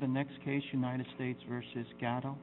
The next case, United States v. Gatto.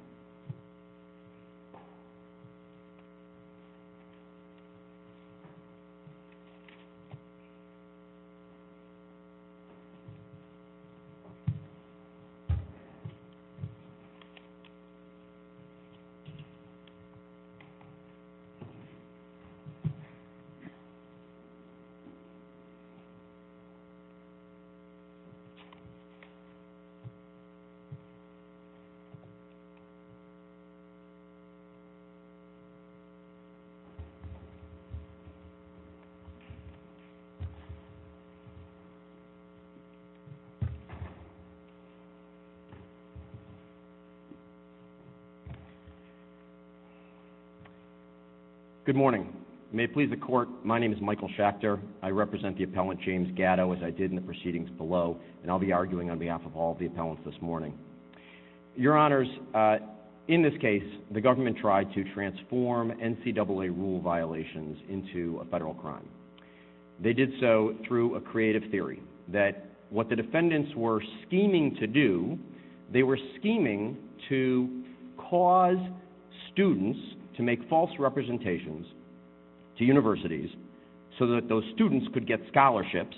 Good morning. May it please the court, my name is Michael Schachter. I represent the appellant James Gatto, as I did in the proceedings below, and I'll be arguing on behalf of all of the appellants this morning. Your Honors, in this case, the government tried to transform NCAA rule violations into a federal crime. They did so through a creative theory that what the defendants were scheming to do, they were scheming to cause students to make false representations to universities so that those students could get scholarships,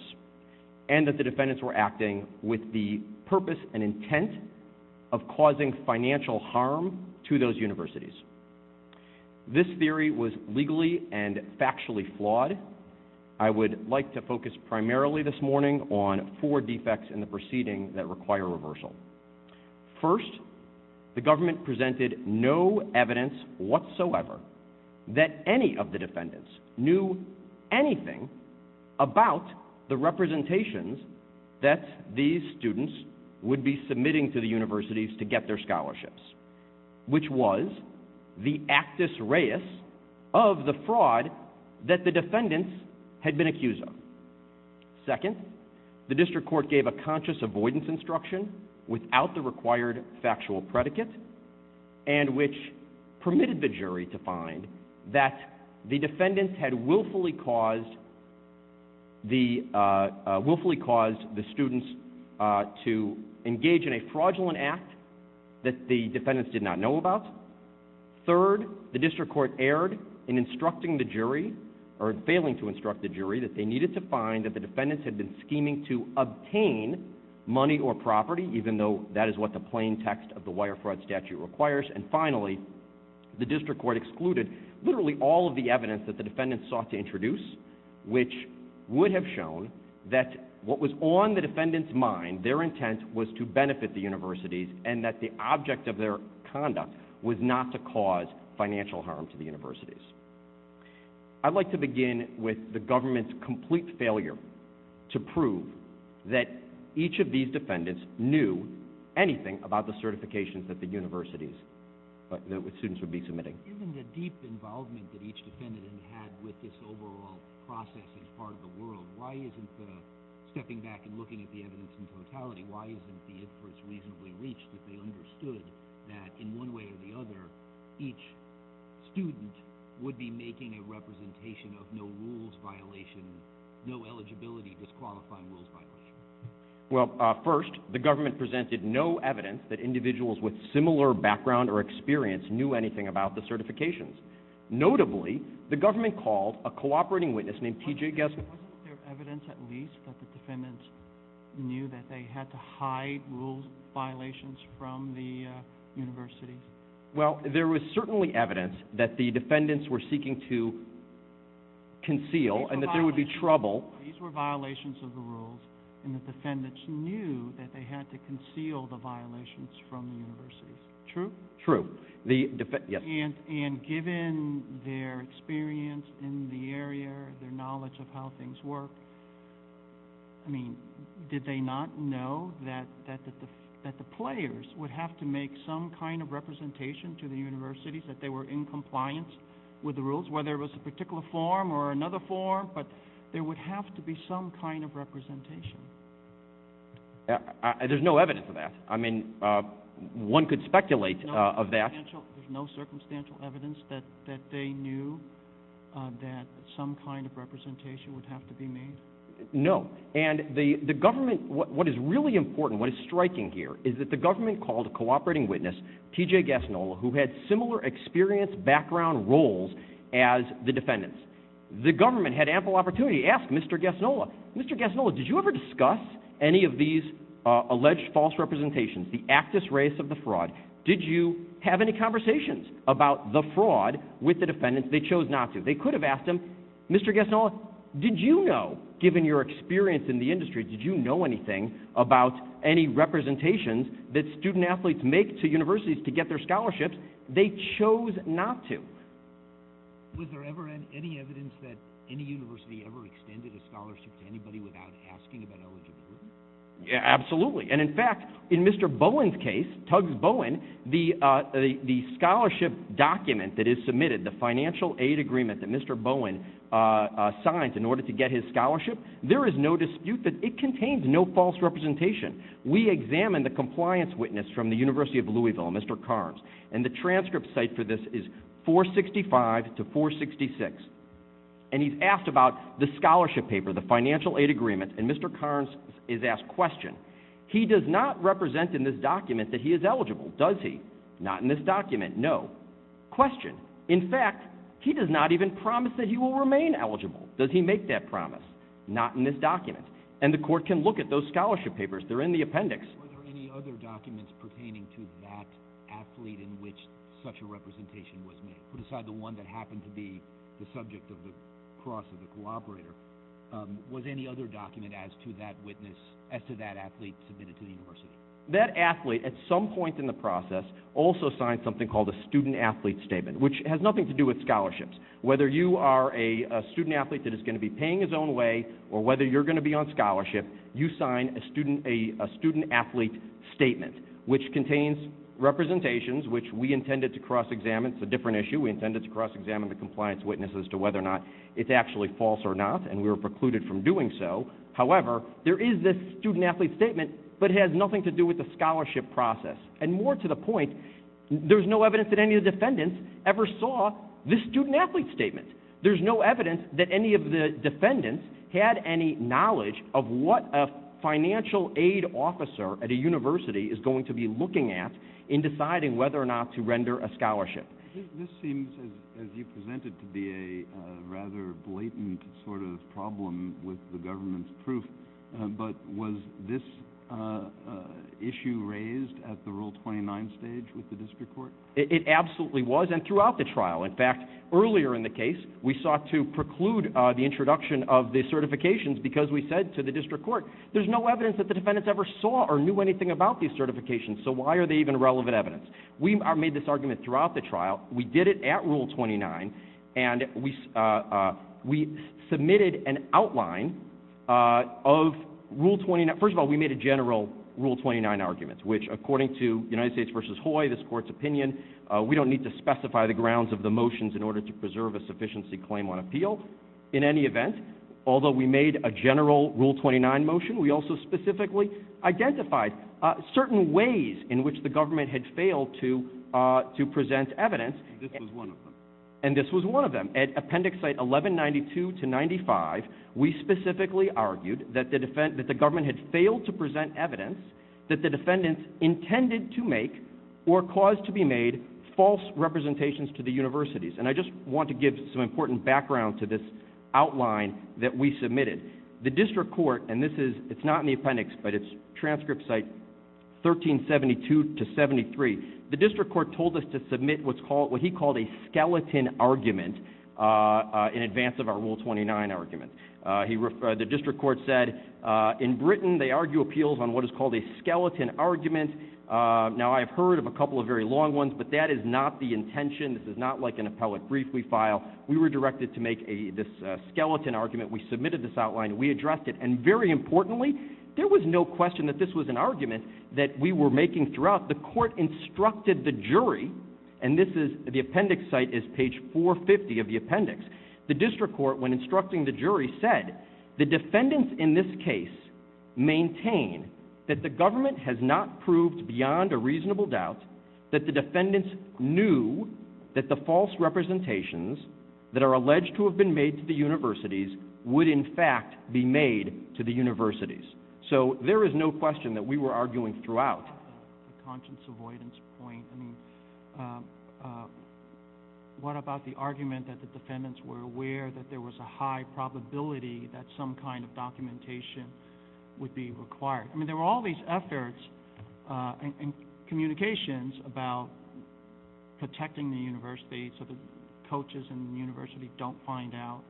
and that was an intent of causing financial harm to those universities. This theory was legally and factually flawed. I would like to focus primarily this morning on four defects in the proceeding that require reversal. First, the government presented no evidence whatsoever that any of the defendants knew anything about the representations that these students would be submitting to the universities to get their scholarships, which was the actus reus of the fraud that the defendants had been accused of. Second, the district court gave a conscious avoidance instruction without the required factual predicate, and which permitted the defendant to find that the defendants had willfully caused the students to engage in a fraudulent act that the defendants did not know about. Third, the district court erred in instructing the jury, or in failing to instruct the jury, that they needed to find that the defendants had been scheming to obtain money or property, even though that is what the plain text of the Wire Fraud Statute requires. And finally, the district court excluded literally all of the evidence that the defendants sought to introduce, which would have shown that what was on the defendants' mind, their intent, was to benefit the universities and that the object of their conduct was not to cause financial harm to the universities. I'd like to begin with the government's complete failure to prove that each of these defendants knew anything about the certifications that the universities, that the students would be submitting. Isn't the deep involvement that each defendant had with this overall process as part of the world, why isn't the stepping back and looking at the evidence in totality, why isn't the inference reasonably reached that they understood that in one way or the other, each student would be making a representation of no rules violation, no eligibility disqualifying rules violations? Well, first, the government presented no evidence that individuals with similar background or experience knew anything about the certifications. Notably, the government called a cooperating witness named T.J. Gessner. Wasn't there evidence at least that the defendants knew that they had to hide rules violations from the universities? Well, there was certainly evidence that the defendants were seeking to conceal and that there would be trouble. These were violations of the rules and the defendants knew that they had to conceal the violations from the universities. True? True. Yes. And given their experience in the area, their knowledge of how things work, I mean, did they not know that the players would have to make some kind of representation to the universities that they were in compliance with the rules, whether it was a particular form or another form, but there would have to be some kind of representation. There's no evidence of that. I mean, one could speculate of that. There's no circumstantial evidence that they knew that some kind of representation would have to be made? No. And the government, what is really important, what is striking here, is that the government called a cooperating witness, T.J. Gessner, who had similar experience, background, roles as the defendants. The government had ample opportunity to ask Mr. Gessner, Mr. Gessner, did you ever discuss any of these alleged false representations, the actus reis of the fraud? Did you have any conversations about the fraud with the defendants? They chose not to. They could have asked him, Mr. Gessner, did you know, given your experience in the industry, did you know anything about any representations that student athletes make to universities to get their scholarships? They chose not to. Was there ever any evidence that any university ever extended a scholarship to anybody without asking about eligibility? Absolutely. And in fact, in Mr. Bowen's case, Tugs Bowen, the scholarship document that is submitted, the financial aid agreement that Mr. Bowen signed in order to get his scholarship, there is no dispute that it contains no false representation. We examined the compliance witness from the University of Louisville, Mr. Carnes, and the transcript site for this is 465 to 466. And he's asked about the scholarship paper, the financial aid agreement, and Mr. Carnes is asked, question, he does not represent in this document that he is eligible, does he? Not in this document, no. Question, in fact, he does not even promise that he will remain eligible. Does he make that promise? Not in this document. And the court can look at those scholarship papers. They're in the appendix. Were there any other documents pertaining to that athlete in which such a representation was made? Put aside the one that happened to be the subject of the cross of the cooperator. Was any other document as to that witness, as to that athlete submitted to the university? That athlete, at some point in the process, also signed something called a student-athlete statement, which has nothing to do with scholarships. Whether you are a student-athlete that is going to be paying his own way, or whether you're going to be on scholarship, you sign a student-athlete statement, which contains representations, which we intended to cross-examine. It's a different issue. We intended to cross-examine the compliance witness as to whether or not it's actually false or not, and we were precluded from doing so. However, there is this student-athlete statement, but it has nothing to do with the scholarship process. And more to the point, there's no evidence that any of the defendants ever saw this student-athlete statement. There's no evidence that any of the defendants had any knowledge of what a financial aid officer at a university is going to be looking at in deciding whether or not to render a scholarship. This seems, as you presented, to be a rather blatant sort of problem with the government's proof, but was this issue raised at the Rule 29 stage with the district court? It absolutely was, and throughout the trial. In fact, earlier in the case, we sought to preclude the introduction of the certifications because we said to the district court, there's no evidence that the defendants ever saw or knew anything about these certifications, so why are they even relevant evidence? We made this argument throughout the trial. We did it at Rule 29, and we submitted an outline of Rule 29. First of all, we made a general Rule 29 argument, which, according to United States v. Hoy, this court's opinion, we don't need to specify the grounds of the motions in order to preserve a sufficiency claim on appeal in any event. Although we made a general Rule 29 motion, we also specifically identified certain ways in which the government had failed to present evidence, and this was one of them. At Appendix 1192-95, we specifically argued that the government had failed to present evidence that the defendants intended to make or caused to be made false representations to the universities, and I just want to give some important background to this outline that we submitted. The district court, and this is not in the appendix, but it's transcript site 1372-73, the district court told us to submit what he called a skeleton argument in advance of our Rule 29 argument. The district court said, in Britain, they argue appeals on what is called a skeleton argument. Now, I have heard of a couple of very long ones, but that is not the intention. This is not like an appellate brief we file. We were directed to make this skeleton argument. We submitted this outline. We addressed it, and very importantly, there was no question that this was an argument that we were making throughout. The court instructed the jury, and the appendix site is page 450 of the appendix. The district court, when instructing the jury, said, the defendants in this case maintain that the government has not proved beyond a reasonable doubt that the defendants knew that the false representations that are alleged to have been made to the universities would, in fact, be made to the universities. So there is no question that we were arguing throughout. The conscience avoidance point. I mean, what about the argument that the defendants were aware that there was a high probability that some kind of documentation would be required? I mean, there were all these efforts and communications about protecting the university so the coaches in the university don't find out,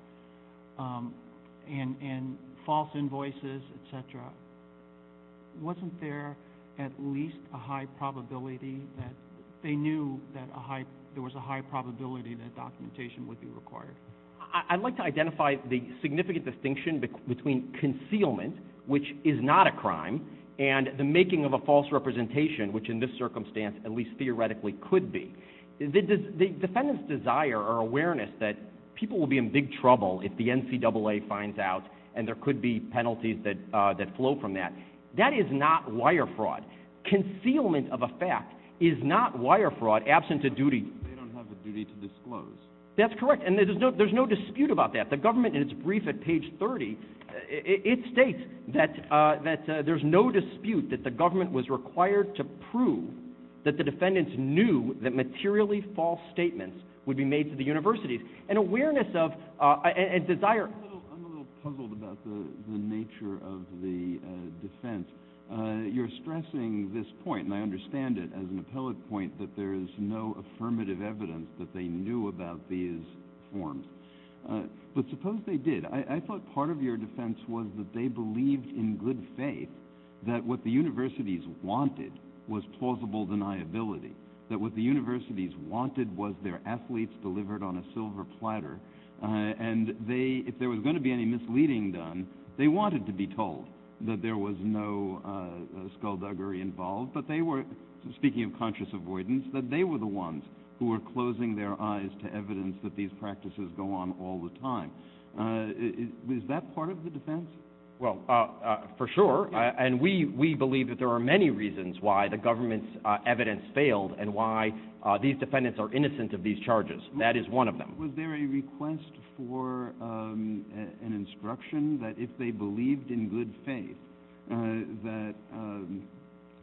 and false invoices, et cetera. Wasn't there at least a high probability that they knew that there was a high probability that documentation would be required? I'd like to identify the significant distinction between concealment, which is not a crime, and the making of a false representation, which in this circumstance at least theoretically could be. The defendants' desire or awareness that people will be in big trouble if the NCAA finds out and there could be penalties that flow from that. That is not wire fraud. Concealment of a fact is not wire fraud absent a duty. They don't have the duty to disclose. That's correct, and there's no dispute about that. The government in its brief at page 30, it states that there's no dispute that the government was required to prove that the defendants knew that materially false statements would be made to the universities. I'm a little puzzled about the nature of the defense. You're stressing this point, and I understand it as an appellate point, that there is no affirmative evidence that they knew about these forms. But suppose they did. I thought part of your defense was that they believed in good faith that what the universities wanted was plausible deniability, that what the universities wanted was their athletes delivered on a silver platter, and if there was going to be any misleading done, they wanted to be told that there was no skullduggery involved, but they were, speaking of conscious avoidance, that they were the ones who were closing their eyes to evidence that these practices go on all the time. Is that part of the defense? Well, for sure, and we believe that there are many reasons why the government's evidence failed and why these defendants are innocent of these charges. That is one of them. Was there a request for an instruction that if they believed in good faith, that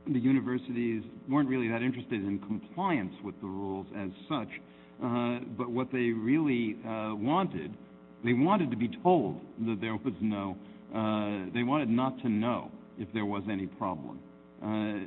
the universities weren't really that interested in compliance with the rules as such, but what they really wanted, they wanted to be told that there was no, they wanted not to know if there was any problem.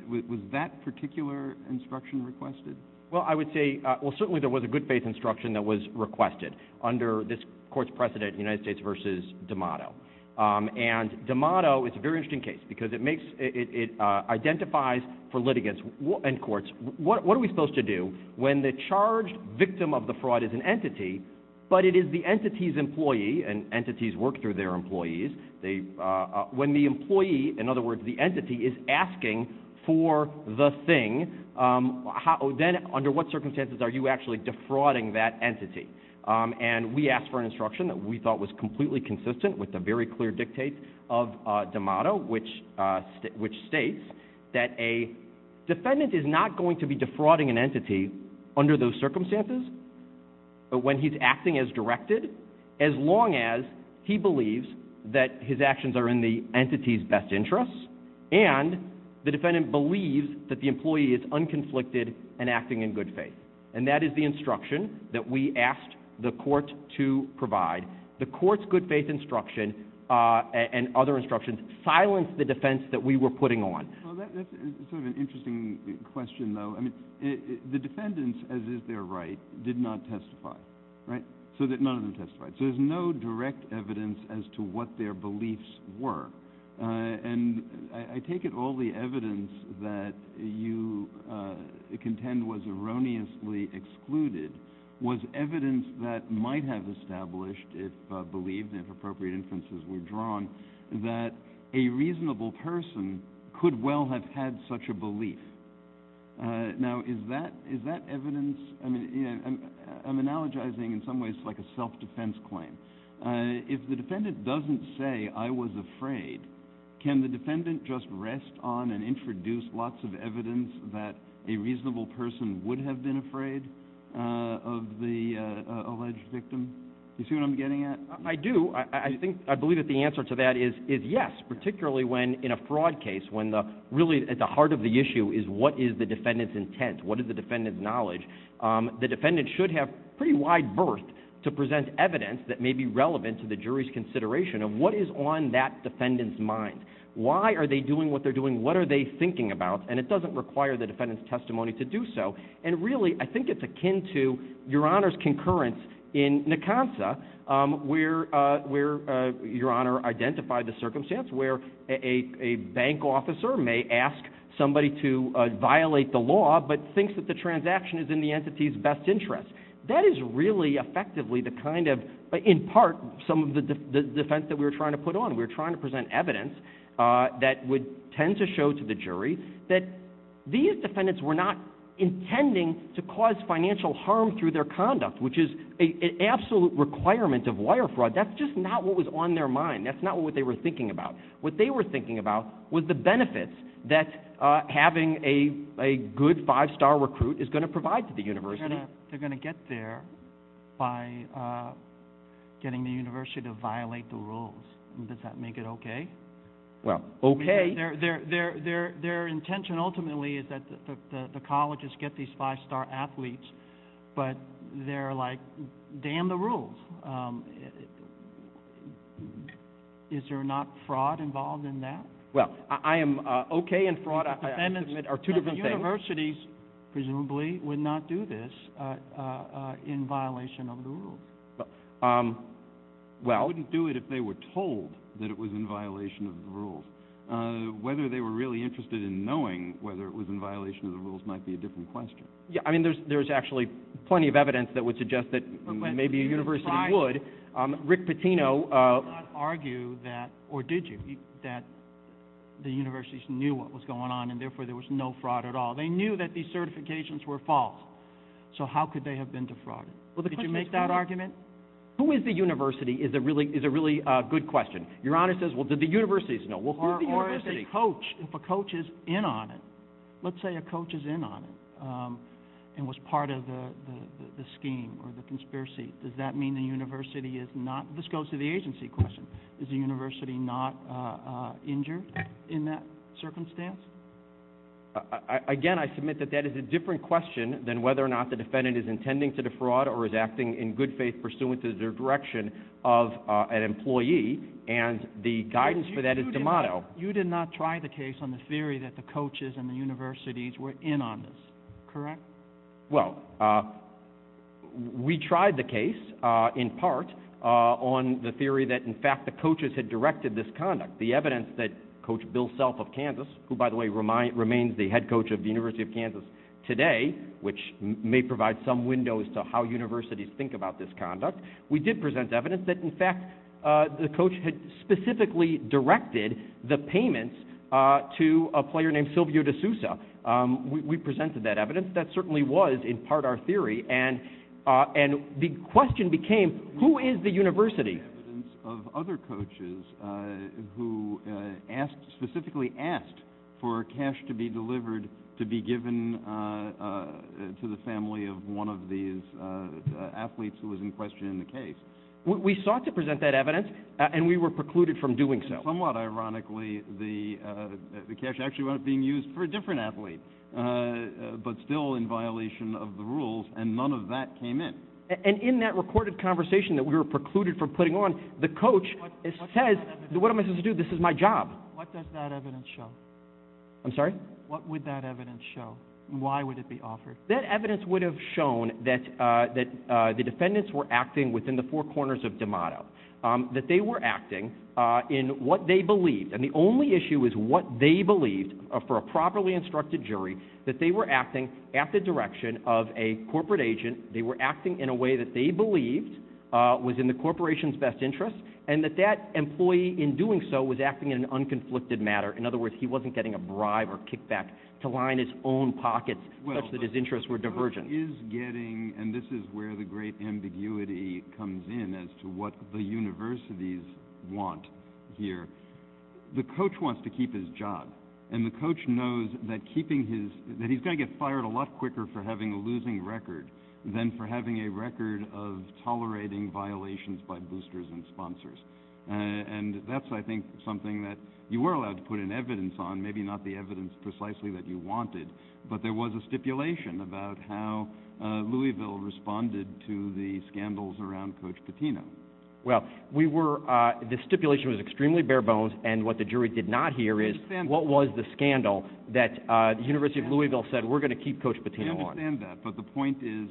Was that particular instruction requested? Well, I would say, well, certainly there was a good faith instruction that was requested under this court's precedent, United States v. D'Amato. And D'Amato, it's a very interesting case because it makes, it identifies for litigants and courts, what are we supposed to do when the charged victim of the fraud is an entity, but it is the entity's employee, and entities work through their employees, when the employee, in other words, the entity, is asking for the thing, then under what circumstances are you actually defrauding that entity? And we asked for an instruction that we thought was completely consistent with a very clear dictate of D'Amato, which states that a defendant is not going to be defrauding an entity under those circumstances, but when he's acting as directed, as long as he believes that his actions are in the entity's best interest, and the defendant believes that the employee is unconflicted and acting in good faith. And that is the instruction that we asked the court to provide. The court's good faith instruction and other instructions silenced the defense that we were putting on. Well, that's sort of an interesting question, though. I mean, the defendants, as is their right, did not testify, right? So none of them testified. So there's no direct evidence as to what their beliefs were. And I take it all the evidence that you contend was erroneously excluded was evidence that might have established, if believed and if appropriate inferences were drawn, that a reasonable person could well have had such a belief. Now, is that evidence? I mean, I'm analogizing in some ways like a self-defense claim. If the defendant doesn't say, I was afraid, can the defendant just rest on and introduce lots of evidence that a reasonable person would have been afraid of the alleged victim? Do you see what I'm getting at? I do. I believe that the answer to that is yes, particularly when in a fraud case, when really at the heart of the issue is what is the defendant's intent? What is the defendant's knowledge? The defendant should have pretty wide berth to present evidence that may be relevant to the jury's consideration of what is on that defendant's mind. Why are they doing what they're doing? What are they thinking about? And it doesn't require the defendant's testimony to do so. And really, I think it's akin to Your Honor's concurrence in Nakansa, where Your Honor identified the circumstance where a bank officer may ask somebody to violate the law but thinks that the transaction is in the entity's best interest. That is really effectively the kind of, in part, some of the defense that we were trying to put on. We were trying to present evidence that would tend to show to the jury that these defendants were not intending to cause financial harm through their conduct, which is an absolute requirement of wire fraud. That's just not what was on their mind. That's not what they were thinking about. What they were thinking about was the benefits that having a good five-star recruit is going to provide to the university. They're going to get there by getting the university to violate the rules. Does that make it okay? Well, okay. Their intention ultimately is that the colleges get these five-star athletes, but they're like, damn the rules. Is there not fraud involved in that? Well, I am okay in fraud. Defendants are two different things. Universities presumably would not do this in violation of the rules. They wouldn't do it if they were told that it was in violation of the rules. Whether they were really interested in knowing whether it was in violation of the rules might be a different question. I mean, there's actually plenty of evidence that would suggest that maybe a university would. Would you not argue that, or did you, that the universities knew what was going on and therefore there was no fraud at all? They knew that these certifications were false. So how could they have been defrauded? Did you make that argument? Who is the university is a really good question. Your Honor says, well, did the universities know? Or if a coach is in on it, let's say a coach is in on it and was part of the scheme or the conspiracy, does that mean the university is not? This goes to the agency question. Is the university not injured in that circumstance? Again, I submit that that is a different question than whether or not the defendant is intending to defraud or is acting in good faith pursuant to their direction of an employee, and the guidance for that is to model. You did not try the case on the theory that the coaches and the universities were in on this, correct? Well, we tried the case in part on the theory that, in fact, the coaches had directed this conduct. The evidence that Coach Bill Self of Kansas, who, by the way, remains the head coach of the University of Kansas today, which may provide some windows to how universities think about this conduct, we did present evidence that, in fact, the coach had specifically directed the payments to a player named Silvio D'Souza. We presented that evidence. That certainly was, in part, our theory, and the question became, who is the university? We presented evidence of other coaches who specifically asked for cash to be delivered to be given to the family of one of these athletes who was in question in the case. We sought to present that evidence, and we were precluded from doing so. Somewhat ironically, the cash actually wound up being used for a different athlete, but still in violation of the rules, and none of that came in. And in that recorded conversation that we were precluded from putting on, the coach says, what am I supposed to do? This is my job. What does that evidence show? I'm sorry? What would that evidence show, and why would it be offered? That evidence would have shown that the defendants were acting within the four corners of DeMotto, that they were acting in what they believed, and the only issue is what they believed for a properly instructed jury, that they were acting at the direction of a corporate agent, they were acting in a way that they believed was in the corporation's best interest, and that that employee, in doing so, was acting in an unconflicted manner. In other words, he wasn't getting a bribe or kickback to line his own pockets, such that his interests were divergent. And this is where the great ambiguity comes in as to what the universities want here. The coach wants to keep his job, and the coach knows that he's going to get fired a lot quicker for having a losing record than for having a record of tolerating violations by boosters and sponsors. And that's, I think, something that you were allowed to put an evidence on, maybe not the evidence precisely that you wanted, but there was a stipulation about how Louisville responded to the scandals around Coach Patino. Well, the stipulation was extremely bare bones, and what the jury did not hear is what was the scandal that the University of Louisville said, we're going to keep Coach Patino on. I understand that, but the point is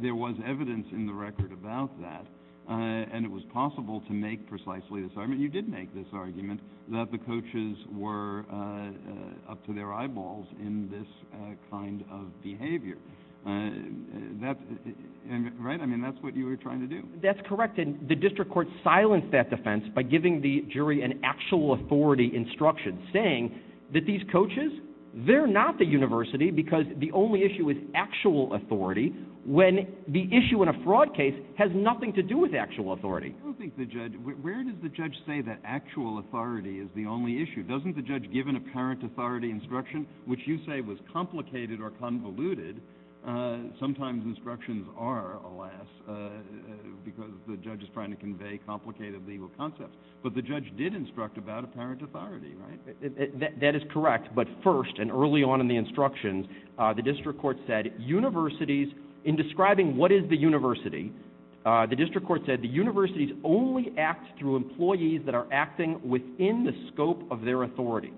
there was evidence in the record about that, and it was possible to make precisely this argument. You did make this argument that the coaches were up to their eyeballs in this kind of behavior, right? I mean, that's what you were trying to do. That's correct, and the district court silenced that defense by giving the jury an actual authority instruction, saying that these coaches, they're not the university because the only issue is actual authority, when the issue in a fraud case has nothing to do with actual authority. I don't think the judge, where does the judge say that actual authority is the only issue? Doesn't the judge give an apparent authority instruction, which you say was complicated or convoluted? Sometimes instructions are, alas, because the judge is trying to convey complicated legal concepts, but the judge did instruct about apparent authority, right? That is correct, but first and early on in the instructions, the district court said universities, in describing what is the university, the district court said the universities only act through employees that are acting within the scope of their authority.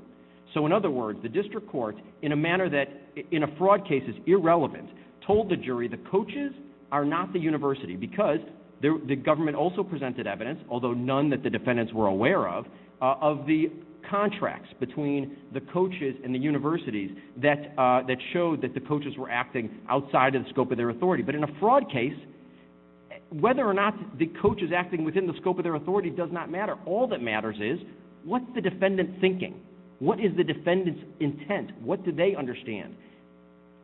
So in other words, the district court, in a manner that in a fraud case is irrelevant, told the jury the coaches are not the university because the government also presented evidence, although none that the defendants were aware of, of the contracts between the coaches and the universities that showed that the coaches were acting outside of the scope of their authority. But in a fraud case, whether or not the coach is acting within the scope of their authority does not matter. All that matters is what's the defendant thinking? What is the defendant's intent? What do they understand?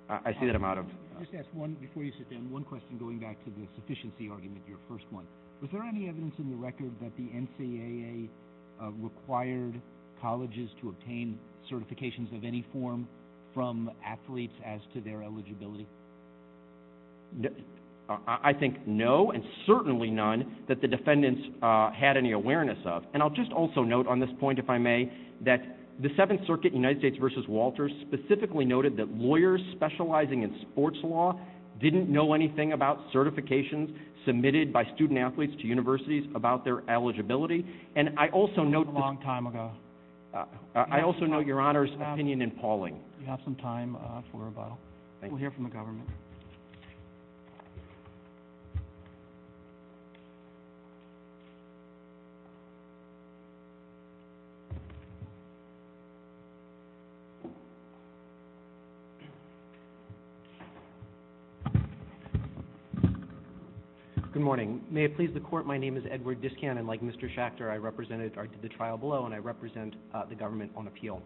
I see that I'm out of time. Just ask one, before you sit down, one question going back to the sufficiency argument, your first one. Was there any evidence in the record that the NCAA required colleges to obtain certifications of any form from athletes as to their eligibility? I think no, and certainly none that the defendants had any awareness of. And I'll just also note on this point, if I may, that the Seventh Circuit, United States v. Walters, specifically noted that lawyers specializing in sports law didn't know anything about certifications submitted by student-athletes to universities about their eligibility. And I also note the... That was a long time ago. I also note your Honor's opinion in Pauling. You have some time for rebuttal. We'll hear from the government. Good morning. May it please the Court, my name is Edward Discan, and like Mr. Schachter, I represented... I did the trial below, and I represent the government on appeal.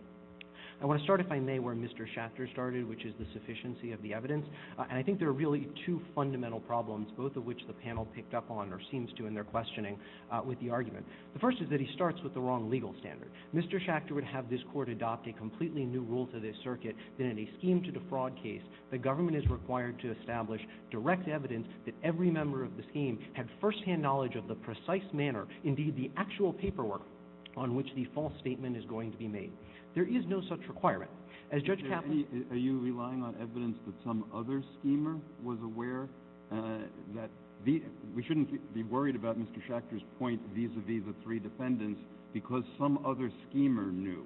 I want to start, if I may, where Mr. Schachter started, which is the sufficiency of the evidence. And I think there are really two fundamental problems, both of which the panel picked up on or seems to in their questioning with the argument. The first is that he starts with the wrong legal standard. Mr. Schachter would have this Court adopt a completely new rule to this circuit that in a scheme to defraud case, the government is required to establish direct evidence that every member of the scheme had first-hand knowledge of the precise manner, indeed the actual paperwork on which the false statement is going to be made. There is no such requirement. As Judge Kaplan... Are you relying on evidence that some other schemer was aware that... We shouldn't be worried about Mr. Schachter's point vis-à-vis the three defendants because some other schemer knew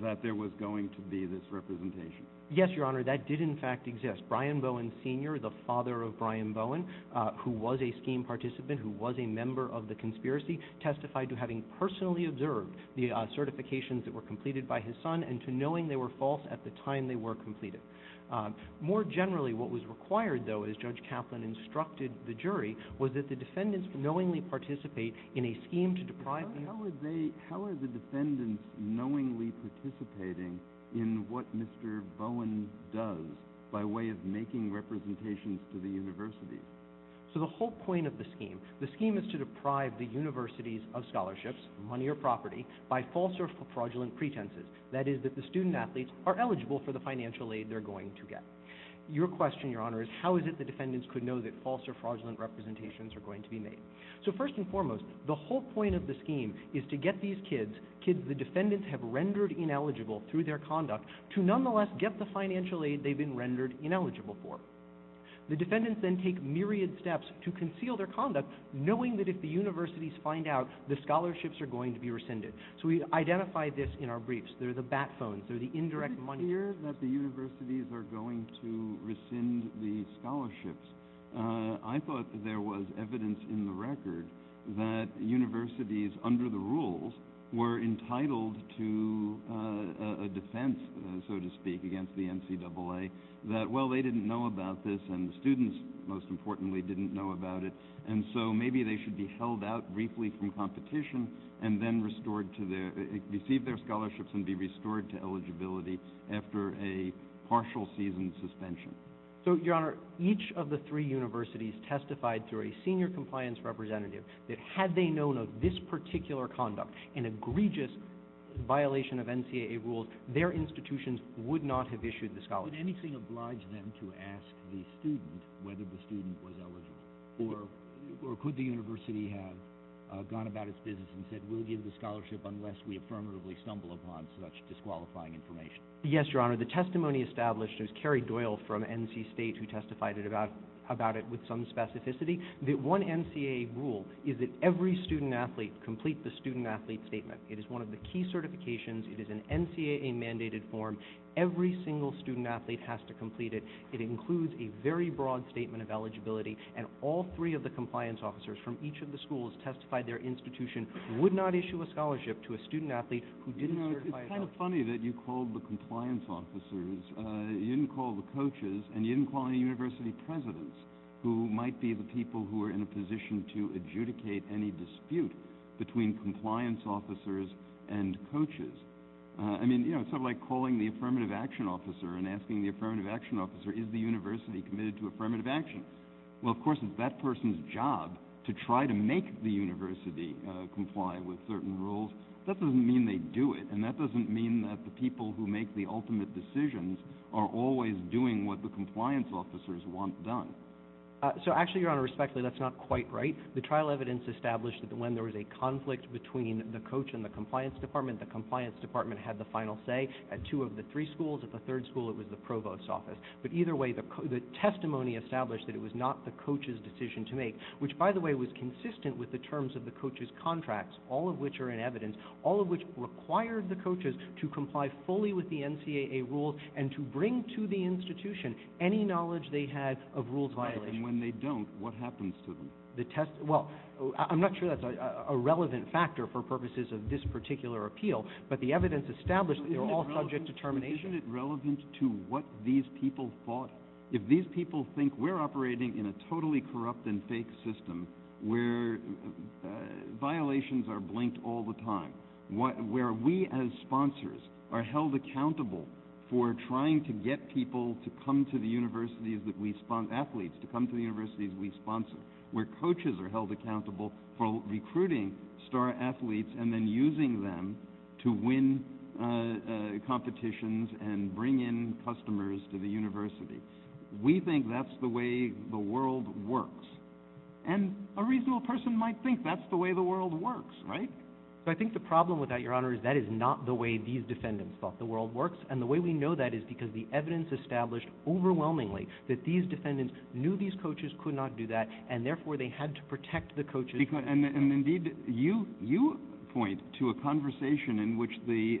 that there was going to be this representation. Yes, Your Honor, that did in fact exist. Brian Bowen Sr., the father of Brian Bowen, who was a scheme participant, who was a member of the conspiracy, testified to having personally observed the certifications that were completed by his son and to knowing they were false at the time they were completed. More generally, what was required, though, as Judge Kaplan instructed the jury, was that the defendants knowingly participate in a scheme to deprive... How are the defendants knowingly participating in what Mr. Bowen does by way of making representations to the universities? So the whole point of the scheme, the scheme is to deprive the universities of scholarships, money or property, by false or fraudulent pretenses. That is, that the student-athletes are eligible for the financial aid they're going to get. Your question, Your Honor, is how is it the defendants could know that false or fraudulent representations are going to be made? So first and foremost, the whole point of the scheme is to get these kids, kids the defendants have rendered ineligible through their conduct, to nonetheless get the financial aid they've been rendered ineligible for. The defendants then take myriad steps to conceal their conduct, knowing that if the universities find out, the scholarships are going to be rescinded. So we identify this in our briefs. They're the bat phones, they're the indirect money... Is it clear that the universities are going to rescind the scholarships? I thought there was evidence in the record that universities, under the rules, were entitled to a defense, so to speak, against the NCAA, that, well, they didn't know about this and the students, most importantly, didn't know about it, and so maybe they should be held out briefly from competition and then receive their scholarships and be restored to eligibility after a partial season suspension. So, Your Honor, each of the three universities testified through a senior compliance representative that had they known of this particular conduct, an egregious violation of NCAA rules, their institutions would not have issued the scholarships. Would anything oblige them to ask the student whether the student was eligible? Or could the university have gone about its business and said, we'll give the scholarship unless we affirmatively stumble upon such disqualifying information? Yes, Your Honor, the testimony established is Carrie Doyle from NC State who testified about it with some specificity. The one NCAA rule is that every student athlete complete the student athlete statement. It is one of the key certifications. It is an NCAA-mandated form. Every single student athlete has to complete it. It includes a very broad statement of eligibility, and all three of the compliance officers from each of the schools testified their institution would not issue a scholarship to a student athlete who didn't certify... You know, it's kind of funny that you called the compliance officers, you didn't call the coaches, and you didn't call any university presidents who might be the people who are in a position to adjudicate any dispute between compliance officers and coaches. I mean, you know, it's sort of like calling the affirmative action officer and asking the affirmative action officer, is the university committed to affirmative action? Well, of course, it's that person's job to try to make the university comply with certain rules. That doesn't mean they do it, and that doesn't mean that the people who make the ultimate decisions are always doing what the compliance officers want done. So actually, Your Honor, respectfully, that's not quite right. The trial evidence established that when there was a conflict between the coach and the compliance department, the compliance department had the final say at two of the three schools. At the third school, it was the provost's office. But either way, the testimony established that it was not the coach's decision to make, which, by the way, was consistent with the terms of the coach's contracts, all of which are in evidence, all of which required the coaches to comply fully with the NCAA rules and to bring to the institution any knowledge they had of rules violations. And when they don't, what happens to them? Well, I'm not sure that's a relevant factor for purposes of this particular appeal, but the evidence established that they were all subject to termination. Isn't it relevant to what these people thought? If these people think we're operating in a totally corrupt and fake system where violations are blinked all the time, where we as sponsors are held accountable for trying to get people to come to the universities that we sponsor, athletes to come to the universities we sponsor, where coaches are held accountable for recruiting star athletes and then using them to win competitions and bring in customers to the university, we think that's the way the world works. And a reasonable person might think that's the way the world works, right? So I think the problem with that, Your Honor, is that is not the way these defendants thought the world works. And the way we know that is because the evidence established overwhelmingly that these defendants knew these coaches could not do that, and therefore they had to protect the coaches. And indeed, you point to a conversation in which the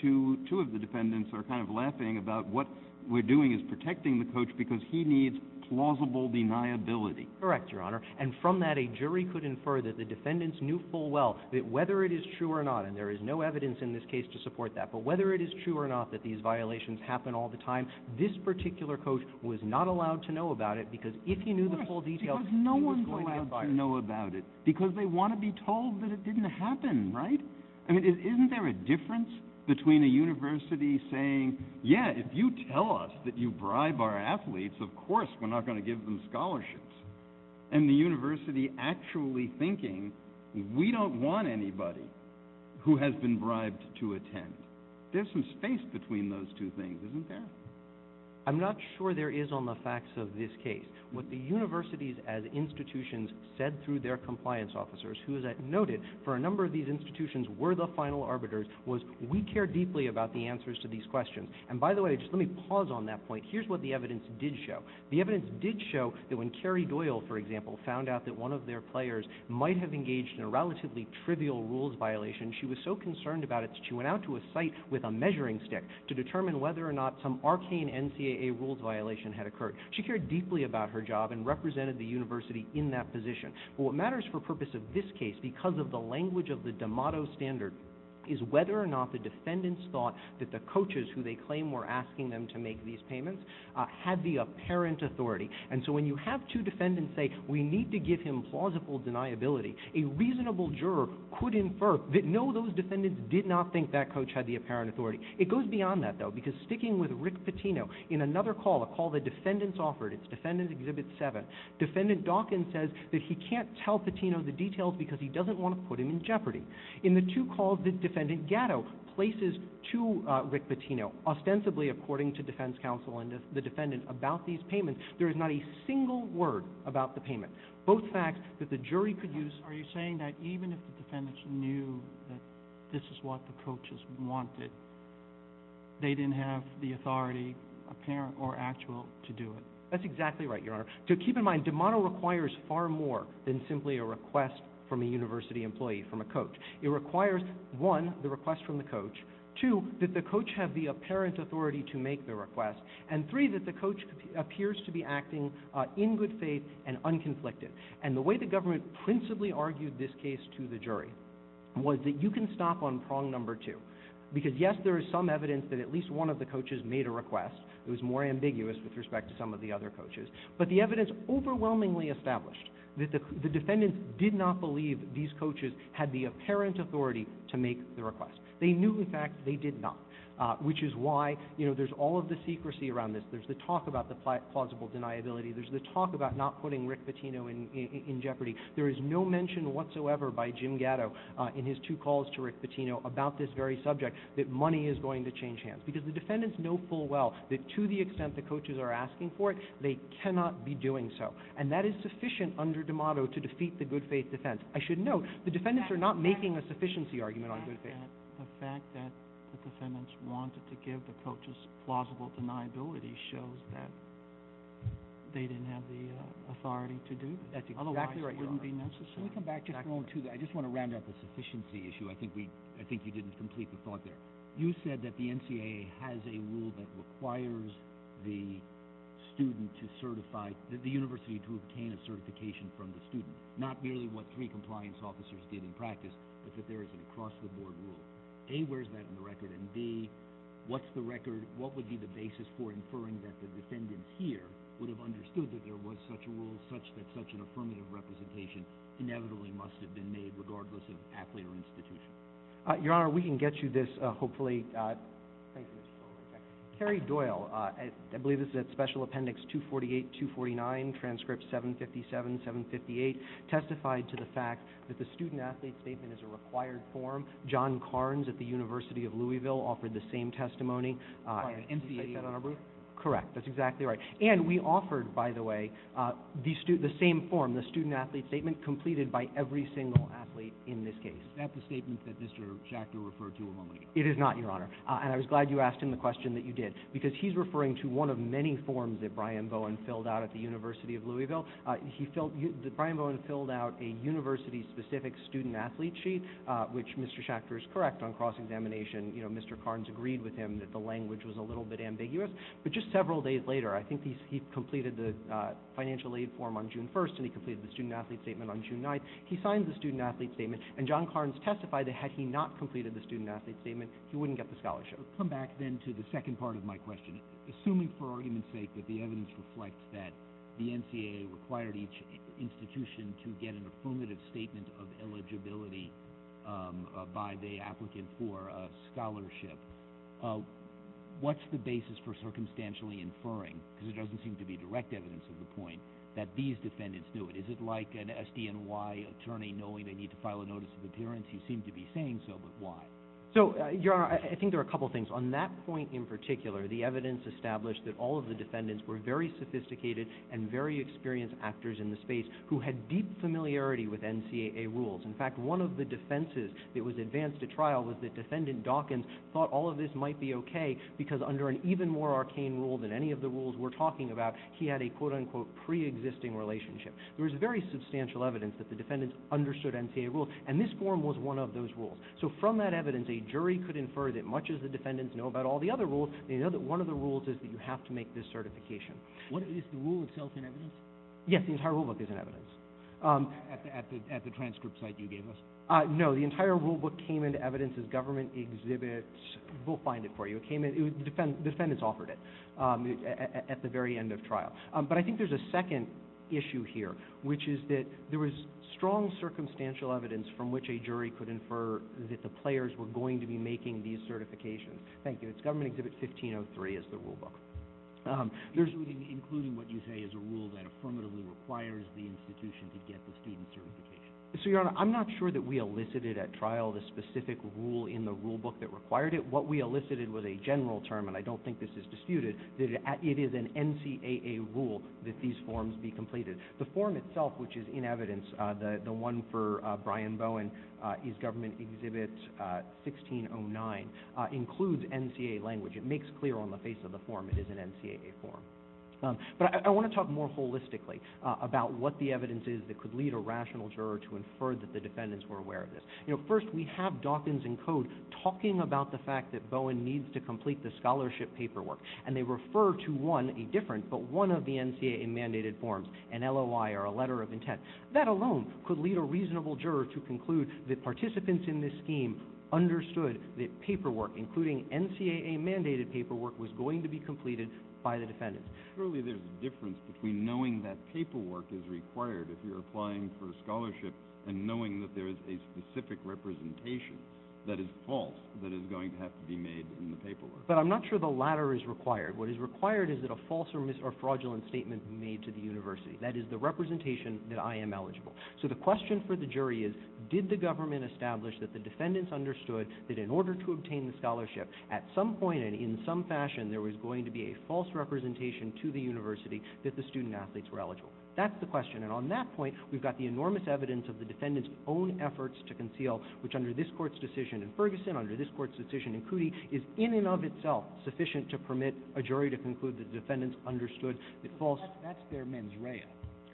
two of the defendants are kind of laughing about what we're doing is protecting the coach because he needs plausible deniability. Correct, Your Honor. And from that, a jury could infer that the defendants knew full well that whether it is true or not, and there is no evidence in this case to support that, but whether it is true or not that these violations happen all the time, this particular coach was not allowed to know about it, because if he knew the full details, he was going to get fired. Because no one's allowed to know about it. Because they want to be told that it didn't happen, right? I mean, isn't there a difference between a university saying, yeah, if you tell us that you bribe our athletes, of course we're not going to give them scholarships, and the university actually thinking we don't want anybody who has been bribed to attend. There's some space between those two things, isn't there? I'm not sure there is on the facts of this case. What the universities as institutions said through their compliance officers, who, as I noted, for a number of these institutions were the final arbiters, was we care deeply about the answers to these questions. And by the way, just let me pause on that point. Here's what the evidence did show. The evidence did show that when Carrie Doyle, for example, found out that one of their players might have engaged in a relatively trivial rules violation, she was so concerned about it that she went out to a site with a measuring stick to determine whether or not some arcane NCAA rules violation had occurred. She cared deeply about her job and represented the university in that position. But what matters for the purpose of this case, because of the language of the DeMotto standard, is whether or not the defendants thought that the coaches who they claim were asking them to make these payments had the apparent authority. And so when you have two defendants say, we need to give him plausible deniability, a reasonable juror could infer that, no, those defendants did not think that coach had the apparent authority. It goes beyond that, though, because sticking with Rick Pitino, in another call, a call that defendants offered, it's Defendant Exhibit 7, Defendant Dawkins says that he can't tell Pitino the details because he doesn't want to put him in jeopardy. In the two calls that Defendant Gatto places to Rick Pitino, ostensibly according to defense counsel and the defendant about these payments, there is not a single word about the payment. Both facts that the jury could use. Are you saying that even if the defendants knew that this is what the coaches wanted, they didn't have the authority, apparent or actual, to do it? That's exactly right, Your Honor. Keep in mind, de mano requires far more than simply a request from a university employee, from a coach. It requires, one, the request from the coach, two, that the coach have the apparent authority to make the request, and three, that the coach appears to be acting in good faith and unconflicted. And the way the government principally argued this case to the jury was that you can stop on prong number two. Because, yes, there is some evidence that at least one of the coaches made a request. It was more ambiguous with respect to some of the other coaches. But the evidence overwhelmingly established that the defendants did not believe these coaches had the apparent authority to make the request. They knew, in fact, they did not, which is why, you know, there's all of the secrecy around this. There's the talk about the plausible deniability. There's the talk about not putting Rick Patino in jeopardy. There is no mention whatsoever by Jim Gatto in his two calls to Rick Patino about this very subject that money is going to change hands. Because the defendants know full well that to the extent the coaches are asking for it, they cannot be doing so. And that is sufficient under D'Amato to defeat the good faith defense. I should note the defendants are not making a sufficiency argument on good faith. The fact that the defendants wanted to give the coaches plausible deniability shows that they didn't have the authority to do this. That's exactly right, Your Honor. Otherwise, it wouldn't be necessary. Can we come back just for a moment to that? I just want to round up the sufficiency issue. I think you didn't complete the thought there. You said that the NCAA has a rule that requires the university to obtain a certification from the student, not merely what three compliance officers did in practice, but that there is an across-the-board rule. A, where is that in the record? And B, what would be the basis for inferring that the defendants here would have understood that there was such a rule, such that such an affirmative representation inevitably must have been made regardless of athlete or institution? Your Honor, we can get you this, hopefully. Thank you, Mr. Chairman. Kerry Doyle, I believe this is at Special Appendix 248-249, Transcript 757-758, testified to the fact that the student-athlete statement is a required form. John Carnes at the University of Louisville offered the same testimony. Did you cite that on our brief? Correct. That's exactly right. And we offered, by the way, the same form, the student-athlete statement, completed by every single athlete in this case. Is that the statement that Mr. Schachter referred to a moment ago? It is not, Your Honor. And I was glad you asked him the question that you did, because he's referring to one of many forms that Brian Bowen filled out at the University of Louisville. Brian Bowen filled out a university-specific student-athlete sheet, which Mr. Schachter is correct on cross-examination. You know, Mr. Carnes agreed with him that the language was a little bit ambiguous. But just several days later, I think he completed the financial aid form on June 1st, and he completed the student-athlete statement on June 9th. He signed the student-athlete statement, and John Carnes testified that had he not completed the student-athlete statement, he wouldn't get the scholarship. Let's come back then to the second part of my question. Assuming, for argument's sake, that the evidence reflects that the NCAA required each institution to get an affirmative statement of eligibility by the applicant for a scholarship, what's the basis for circumstantially inferring, because there doesn't seem to be direct evidence of the point, that these defendants knew it? Is it like an SDNY attorney knowing they need to file a notice of appearance? He seemed to be saying so, but why? So, Your Honor, I think there are a couple of things. On that point in particular, the evidence established that all of the defendants were very sophisticated and very experienced actors in the space who had deep familiarity with NCAA rules. In fact, one of the defenses that was advanced at trial was that defendant Dawkins thought all of this might be okay because under an even more arcane rule than any of the rules we're talking about, he had a quote-unquote pre-existing relationship. There was very substantial evidence that the defendants understood NCAA rules, and this form was one of those rules. So from that evidence, a jury could infer that much as the defendants know about all the other rules, they know that one of the rules is that you have to make this certification. Is the rule itself in evidence? Yes, the entire rulebook is in evidence. At the transcript site you gave us? No, the entire rulebook came into evidence as government exhibits. We'll find it for you. The defendants offered it at the very end of trial. But I think there's a second issue here, which is that there was strong circumstantial evidence from which a jury could infer that the players were going to be making these certifications. Thank you. It's Government Exhibit 1503 is the rulebook. Including what you say is a rule that affirmatively requires the institution to get the student certification. Your Honor, I'm not sure that we elicited at trial the specific rule in the rulebook that required it. What we elicited was a general term, and I don't think this is disputed, that it is an NCAA rule that these forms be completed. The form itself, which is in evidence, the one for Brian Bowen, is Government Exhibit 1609, includes NCAA language. It makes clear on the face of the form it is an NCAA form. But I want to talk more holistically about what the evidence is that could lead a rational juror to infer that the defendants were aware of this. First, we have Dawkins and Code talking about the fact that Bowen needs to complete the scholarship paperwork, and they refer to one, a different, but one of the NCAA-mandated forms, an LOI or a letter of intent. That alone could lead a reasonable juror to conclude that participants in this scheme understood that paperwork, including NCAA-mandated paperwork, was going to be completed by the defendants. Surely there's a difference between knowing that paperwork is required if you're applying for a scholarship and knowing that there is a specific representation that is false that is going to have to be made in the paperwork. But I'm not sure the latter is required. What is required is that a false or fraudulent statement be made to the university. That is the representation that I am eligible. So the question for the jury is, did the government establish that the defendants understood that in order to obtain the scholarship, at some point and in some fashion, there was going to be a false representation to the university that the student-athletes were eligible? That's the question. And on that point, we've got the enormous evidence of the defendants' own efforts to conceal, which under this Court's decision in Ferguson, under this Court's decision in Cootey, is in and of itself sufficient to permit a jury to conclude that the defendants understood that false— That's their mens rea.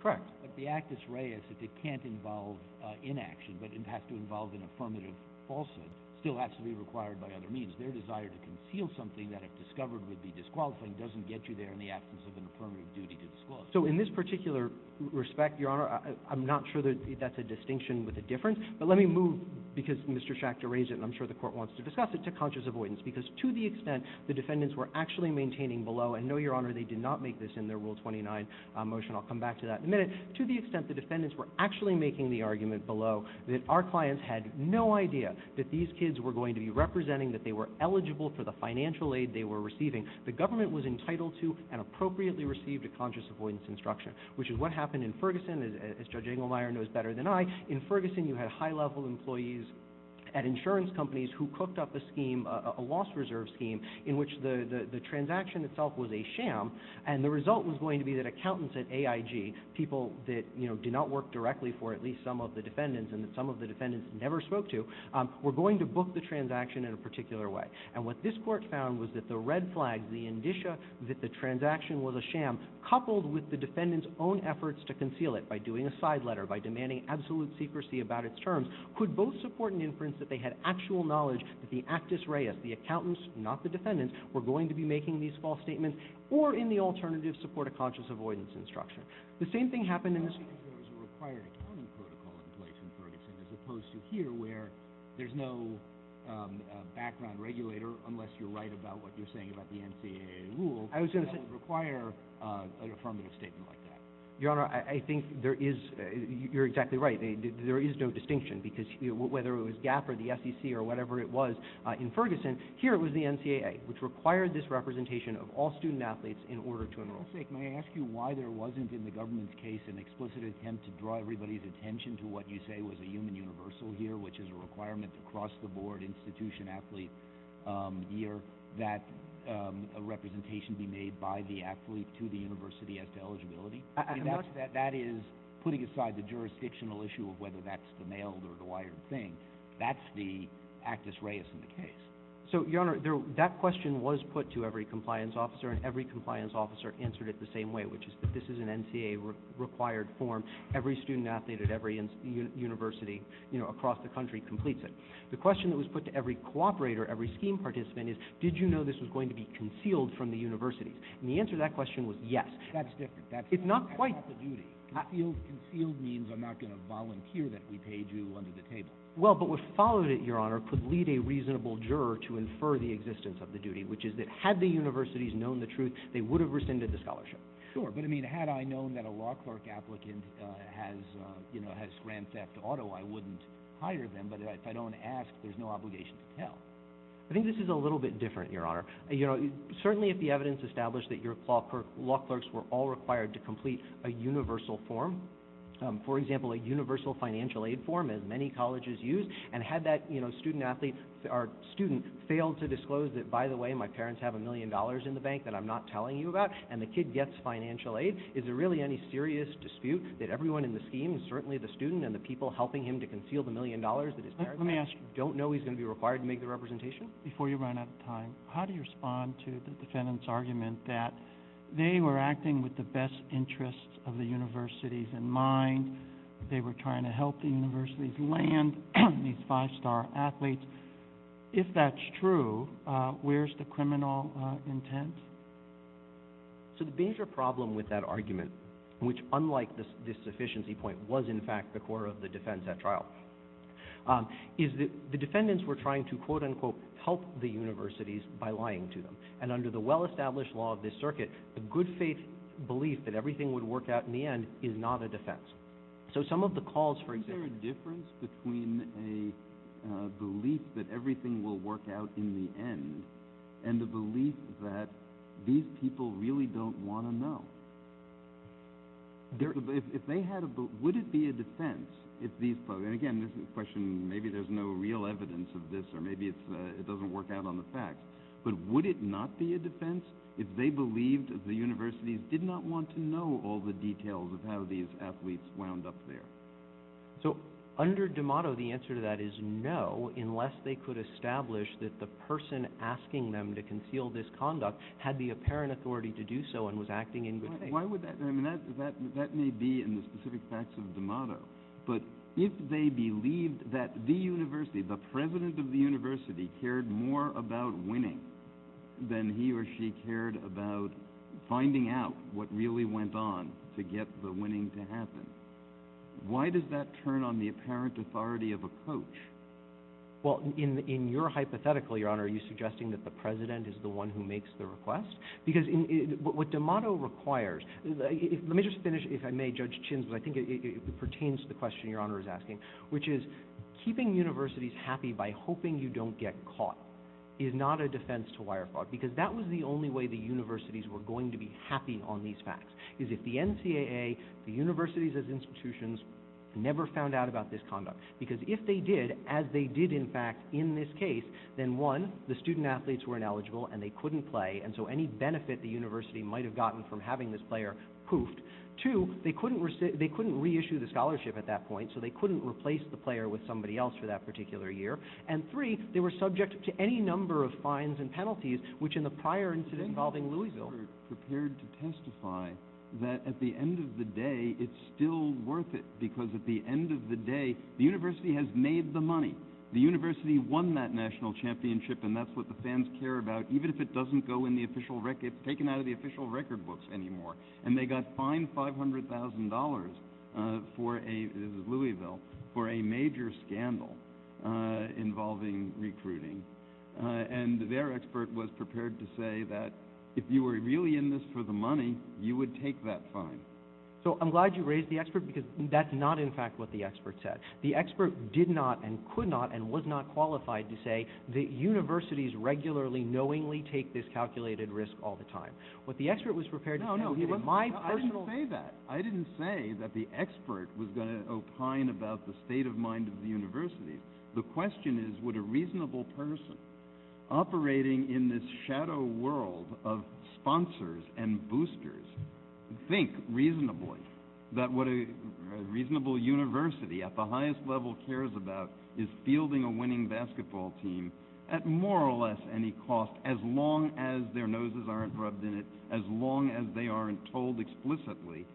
Correct. But the actus rea is that they can't involve inaction, but it has to involve an affirmative falsehood. It still has to be required by other means. Their desire to conceal something that if discovered would be disqualifying doesn't get you there in the absence of an affirmative duty to disqualify. So in this particular respect, Your Honor, I'm not sure that that's a distinction with a difference. But let me move, because Mr. Schachter raised it and I'm sure the Court wants to discuss it, to conscious avoidance, because to the extent the defendants were actually maintaining below— and no, Your Honor, they did not make this in their Rule 29 motion. I'll come back to that in a minute. To the extent the defendants were actually making the argument below that our clients had no idea that these kids were going to be representing, that they were eligible for the financial aid they were receiving, the government was entitled to and appropriately received a conscious avoidance instruction, which is what happened in Ferguson, as Judge Engelmeyer knows better than I. In Ferguson, you had high-level employees at insurance companies who cooked up a scheme, a loss-reserve scheme, in which the transaction itself was a sham, and the result was going to be that accountants at AIG, people that did not work directly for at least some of the defendants and that some of the defendants never spoke to, were going to book the transaction in a particular way. And what this Court found was that the red flags, the indicia that the transaction was a sham, coupled with the defendants' own efforts to conceal it by doing a side letter, by demanding absolute secrecy about its terms, could both support an inference that they had actual knowledge that the actus reus, the accountants, not the defendants, were going to be making these false statements, or in the alternative, support a conscious avoidance instruction. The same thing happened in this— There's a required accounting protocol in place in Ferguson, as opposed to here, where there's no background regulator, unless you're right about what you're saying about the NCAA rule, that would require an affirmative statement like that. Your Honor, I think there is—you're exactly right. There is no distinction, because whether it was GAAP or the SEC or whatever it was in Ferguson, here it was the NCAA, which required this representation of all student-athletes in order to enroll. For God's sake, may I ask you why there wasn't, in the government's case, an explicit attempt to draw everybody's attention to what you say was a human universal here, which is a requirement across the board, institution, athlete, year, that a representation be made by the athlete to the university as to eligibility? That is putting aside the jurisdictional issue of whether that's the mailed or the wired thing. That's the actus reus in the case. So, Your Honor, that question was put to every compliance officer, and every compliance officer answered it the same way, which is that this is an NCAA-required form. Every student-athlete at every university across the country completes it. The question that was put to every cooperator, every scheme participant, is did you know this was going to be concealed from the universities? And the answer to that question was yes. That's different. It's not quite— That's not the duty. Concealed means I'm not going to volunteer that we paid you under the table. Well, but what followed it, Your Honor, could lead a reasonable juror to infer the existence of the duty, which is that had the universities known the truth, they would have rescinded the scholarship. Sure. But, I mean, had I known that a law clerk applicant has, you know, has grand theft auto, I wouldn't hire them. But if I don't ask, there's no obligation to tell. I think this is a little bit different, Your Honor. You know, certainly if the evidence established that your law clerks were all required to complete a universal form, for example, a universal financial aid form, as many colleges use, and had that, you know, student athlete or student failed to disclose that, by the way, my parents have a million dollars in the bank that I'm not telling you about, and the kid gets financial aid, is there really any serious dispute that everyone in the scheme, certainly the student and the people helping him to conceal the million dollars that his parents have, don't know he's going to be required to make the representation? Before you run out of time, how do you respond to the defendant's argument that they were acting with the best interests of the universities in mind, they were trying to help the universities land these five-star athletes? If that's true, where's the criminal intent? So the major problem with that argument, which, unlike this sufficiency point, was in fact the core of the defense at trial, is that the defendants were trying to, quote, unquote, help the universities by lying to them. And under the well-established law of this circuit, the good faith belief that everything would work out in the end is not a defense. So some of the calls for example... Isn't there a difference between a belief that everything will work out in the end and a belief that these people really don't want to know? Would it be a defense if these folks, and again, this is a question, maybe there's no real evidence of this or maybe it doesn't work out on the facts, but would it not be a defense if they believed the universities did not want to know all the details of how these athletes wound up there? So under D'Amato, the answer to that is no, unless they could establish that the person asking them to conceal this conduct had the apparent authority to do so and was acting in good faith. That may be in the specific facts of D'Amato, that he cared more about winning than he or she cared about finding out what really went on to get the winning to happen. Why does that turn on the apparent authority of a coach? Well, in your hypothetical, Your Honor, are you suggesting that the president is the one who makes the request? Because what D'Amato requires... Let me just finish, if I may, Judge Chins, because I think it pertains to the question Your Honor is asking, which is keeping universities happy by hoping you don't get caught is not a defense to wire fraud, because that was the only way the universities were going to be happy on these facts, is if the NCAA, the universities as institutions, never found out about this conduct. Because if they did, as they did in fact in this case, then one, the student athletes were ineligible and they couldn't play, and so any benefit the university might have gotten from having this player poofed. Two, they couldn't reissue the scholarship at that point, so they couldn't replace the player with somebody else for that particular year. And three, they were subject to any number of fines and penalties, which in the prior incident involving Louisville... ...prepared to testify that at the end of the day, it's still worth it, because at the end of the day, the university has made the money. The university won that national championship, and that's what the fans care about, even if it doesn't go in the official record, it's taken out of the official record books anymore. And they got fined $500,000 for a, this is Louisville, for a major scandal involving recruiting. And their expert was prepared to say that if you were really in this for the money, you would take that fine. So I'm glad you raised the expert, because that's not in fact what the expert said. The expert did not and could not and was not qualified to say that universities regularly knowingly take this calculated risk all the time. What the expert was prepared to say... No, no, he wasn't. I didn't say that. I didn't say that the expert was going to opine about the state of mind of the university. The question is, would a reasonable person operating in this shadow world of sponsors and boosters think reasonably that what a reasonable university at the highest level cares about is fielding a winning basketball team at more or less any cost, as long as their noses aren't rubbed in it, as long as they aren't told explicitly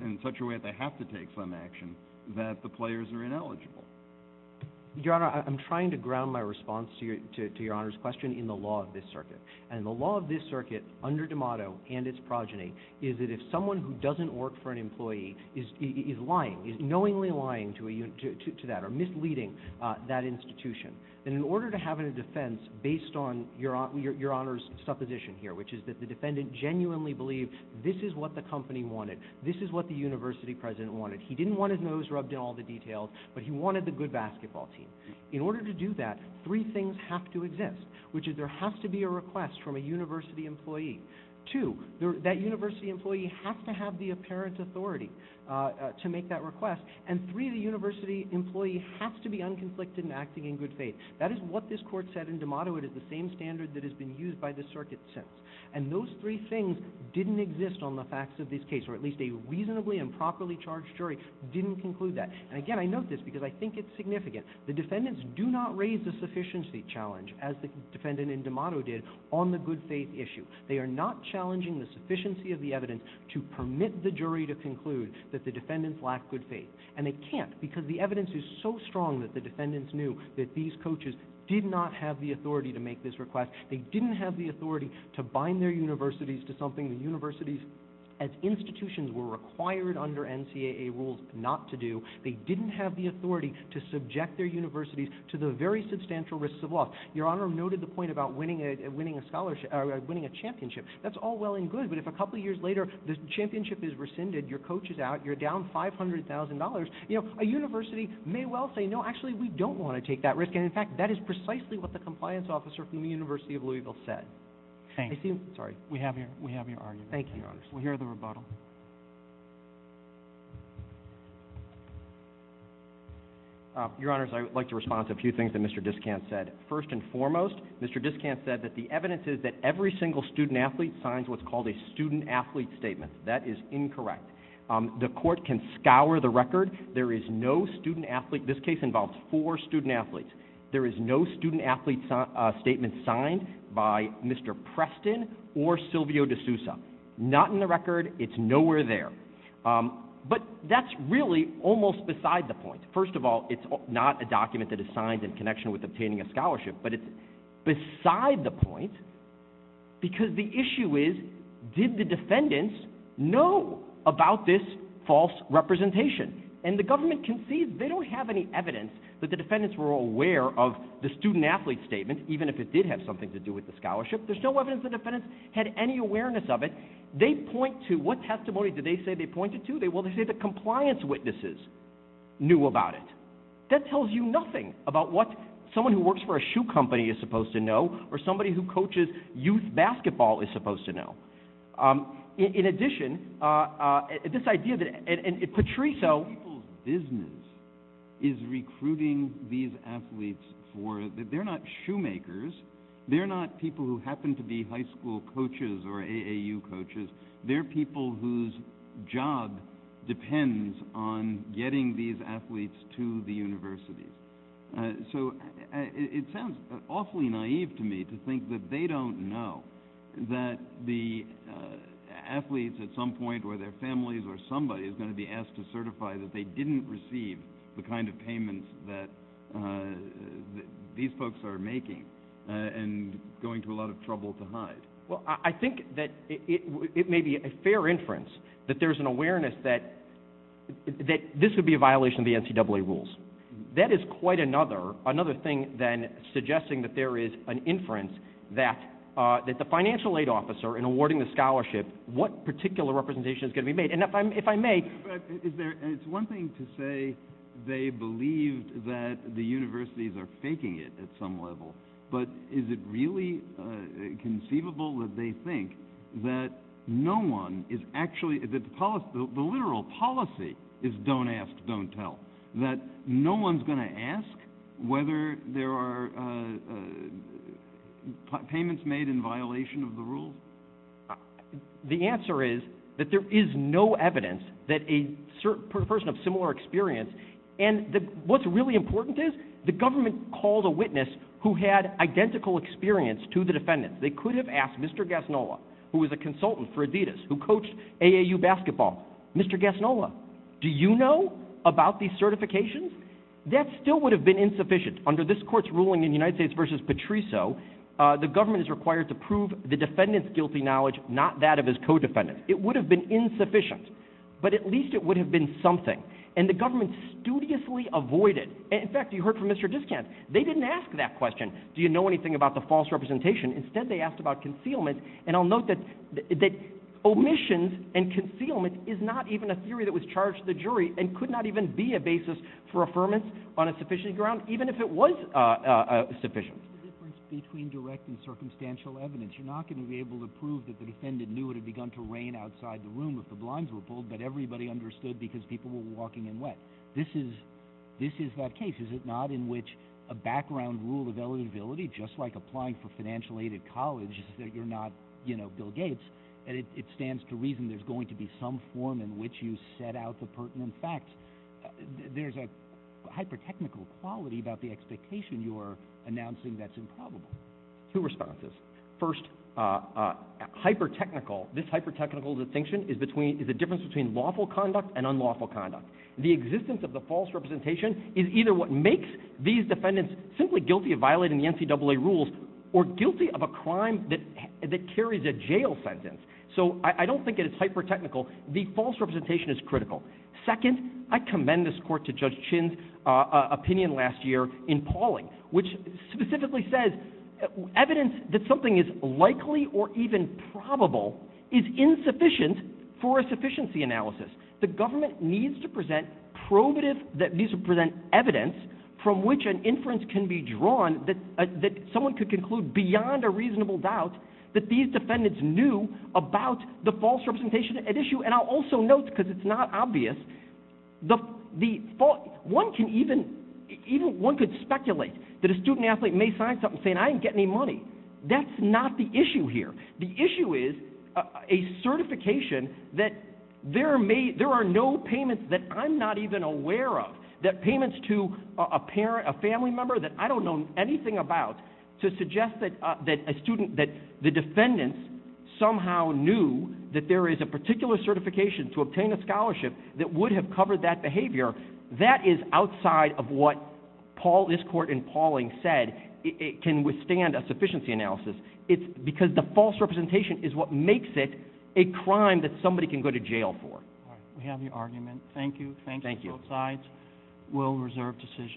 in such a way that they have to take some action, that the players are ineligible? Your Honor, I'm trying to ground my response to Your Honor's question in the law of this circuit. And the law of this circuit, under DeMotto and its progeny, is that if someone who doesn't work for an employee is lying, is knowingly lying to that or misleading that institution, then in order to have a defense based on Your Honor's supposition here, which is that the defendant genuinely believed this is what the company wanted, this is what the university president wanted. He didn't want his nose rubbed in all the details, but he wanted the good basketball team. In order to do that, three things have to exist, which is there has to be a request from a university employee. Two, that university employee has to have the apparent authority to make that request. And three, the university employee has to be unconflicted in acting in good faith. That is what this court said in DeMotto. It is the same standard that has been used by this circuit since. And those three things didn't exist on the facts of this case, or at least a reasonably improperly charged jury didn't conclude that. And again, I note this because I think it's significant. The defendants do not raise the sufficiency challenge, as the defendant in DeMotto did, on the good faith issue. They are not challenging the sufficiency of the evidence to permit the jury to conclude that the defendants lack good faith. And they can't because the evidence is so strong that the defendants knew that these coaches did not have the authority to make this request. They didn't have the authority to bind their universities to something the universities as institutions were required under NCAA rules not to do. They didn't have the authority to subject their universities to the very substantial risks of loss. Your Honor noted the point about winning a championship. That's all well and good, but if a couple of years later the championship is rescinded, your coach is out, you're down $500,000, a university may well say, no, actually we don't want to take that risk. And, in fact, that is precisely what the compliance officer from the University of Louisville said. Thank you. Sorry. We have your argument. Thank you, Your Honors. We'll hear the rebuttal. Your Honors, I would like to respond to a few things that Mr. Diskant said. First and foremost, Mr. Diskant said that the evidence is that every single student athlete signs what's called a student athlete statement. That is incorrect. The court can scour the record. There is no student athlete. This case involves four student athletes. There is no student athlete statement signed by Mr. Preston or Silvio D'Souza. Not in the record. It's nowhere there. But that's really almost beside the point. First of all, it's not a document that is signed in connection with obtaining a scholarship, but it's beside the point because the issue is, did the defendants know about this false representation? And the government concedes they don't have any evidence that the defendants were aware of the student athlete statement, even if it did have something to do with the scholarship. There's no evidence the defendants had any awareness of it. They point to, what testimony did they say they pointed to? Well, they say the compliance witnesses knew about it. That tells you nothing about what someone who works for a shoe company is supposed to know or somebody who coaches youth basketball is supposed to know. In addition, this idea that Patriso – People's business is recruiting these athletes for – they're not shoemakers. They're not people who happen to be high school coaches or AAU coaches. They're people whose job depends on getting these athletes to the universities. So it sounds awfully naive to me to think that they don't know that the athletes at some point, or their families or somebody, is going to be asked to certify that they didn't receive the kind of payments that these folks are making and going to a lot of trouble to hide. Well, I think that it may be a fair inference that there's an awareness that this would be a violation of the NCAA rules. That is quite another thing than suggesting that there is an inference that the financial aid officer in awarding the scholarship, what particular representation is going to be made? And if I may – It's one thing to say they believed that the universities are faking it at some level, but is it really conceivable that they think that no one is actually – that the literal policy is don't ask, don't tell? That no one's going to ask whether there are payments made in violation of the rules? The answer is that there is no evidence that a person of similar experience – And what's really important is the government called a witness who had identical experience to the defendants. They could have asked Mr. Gasnola, who was a consultant for Adidas, who coached AAU basketball. Mr. Gasnola, do you know about these certifications? That still would have been insufficient. Under this court's ruling in United States v. Patriso, the government is required to prove the defendant's guilty knowledge, not that of his co-defendant. It would have been insufficient, but at least it would have been something. And the government studiously avoided – in fact, you heard from Mr. Discant. They didn't ask that question, do you know anything about the false representation? Instead, they asked about concealment. And I'll note that omissions and concealment is not even a theory that was charged to the jury and could not even be a basis for affirmance on a sufficient ground, even if it was sufficient. The difference between direct and circumstantial evidence. You're not going to be able to prove that the defendant knew it had begun to rain outside the room if the blinds were pulled, but everybody understood because people were walking in wet. This is that case, is it not, in which a background rule of eligibility, just like applying for financial aid at college, is that you're not Bill Gates, and it stands to reason there's going to be some form in which you set out the pertinent facts. There's a hyper-technical quality about the expectation you're announcing that's improbable. Two responses. First, hyper-technical. This hyper-technical distinction is the difference between lawful conduct and unlawful conduct. The existence of the false representation is either what makes these defendants simply guilty of violating the NCAA rules or guilty of a crime that carries a jail sentence. So I don't think it is hyper-technical. The false representation is critical. Second, I commend this court to Judge Chin's opinion last year in Pauling, which specifically says evidence that something is likely or even probable is insufficient for a sufficiency analysis. The government needs to present evidence from which an inference can be drawn that someone could conclude, beyond a reasonable doubt, that these defendants knew about the false representation at issue. And I'll also note, because it's not obvious, one could speculate that a student athlete may sign something saying, I didn't get any money. That's not the issue here. The issue is a certification that there are no payments that I'm not even aware of, that payments to a family member that I don't know anything about, to suggest that a student, that the defendants somehow knew that there is a particular certification to obtain a scholarship that would have covered that behavior, that is outside of what this court in Pauling said can withstand a sufficiency analysis. It's because the false representation is what makes it a crime that somebody can go to jail for. We have your argument. Thank you. Thank you. Both sides will reserve decisions.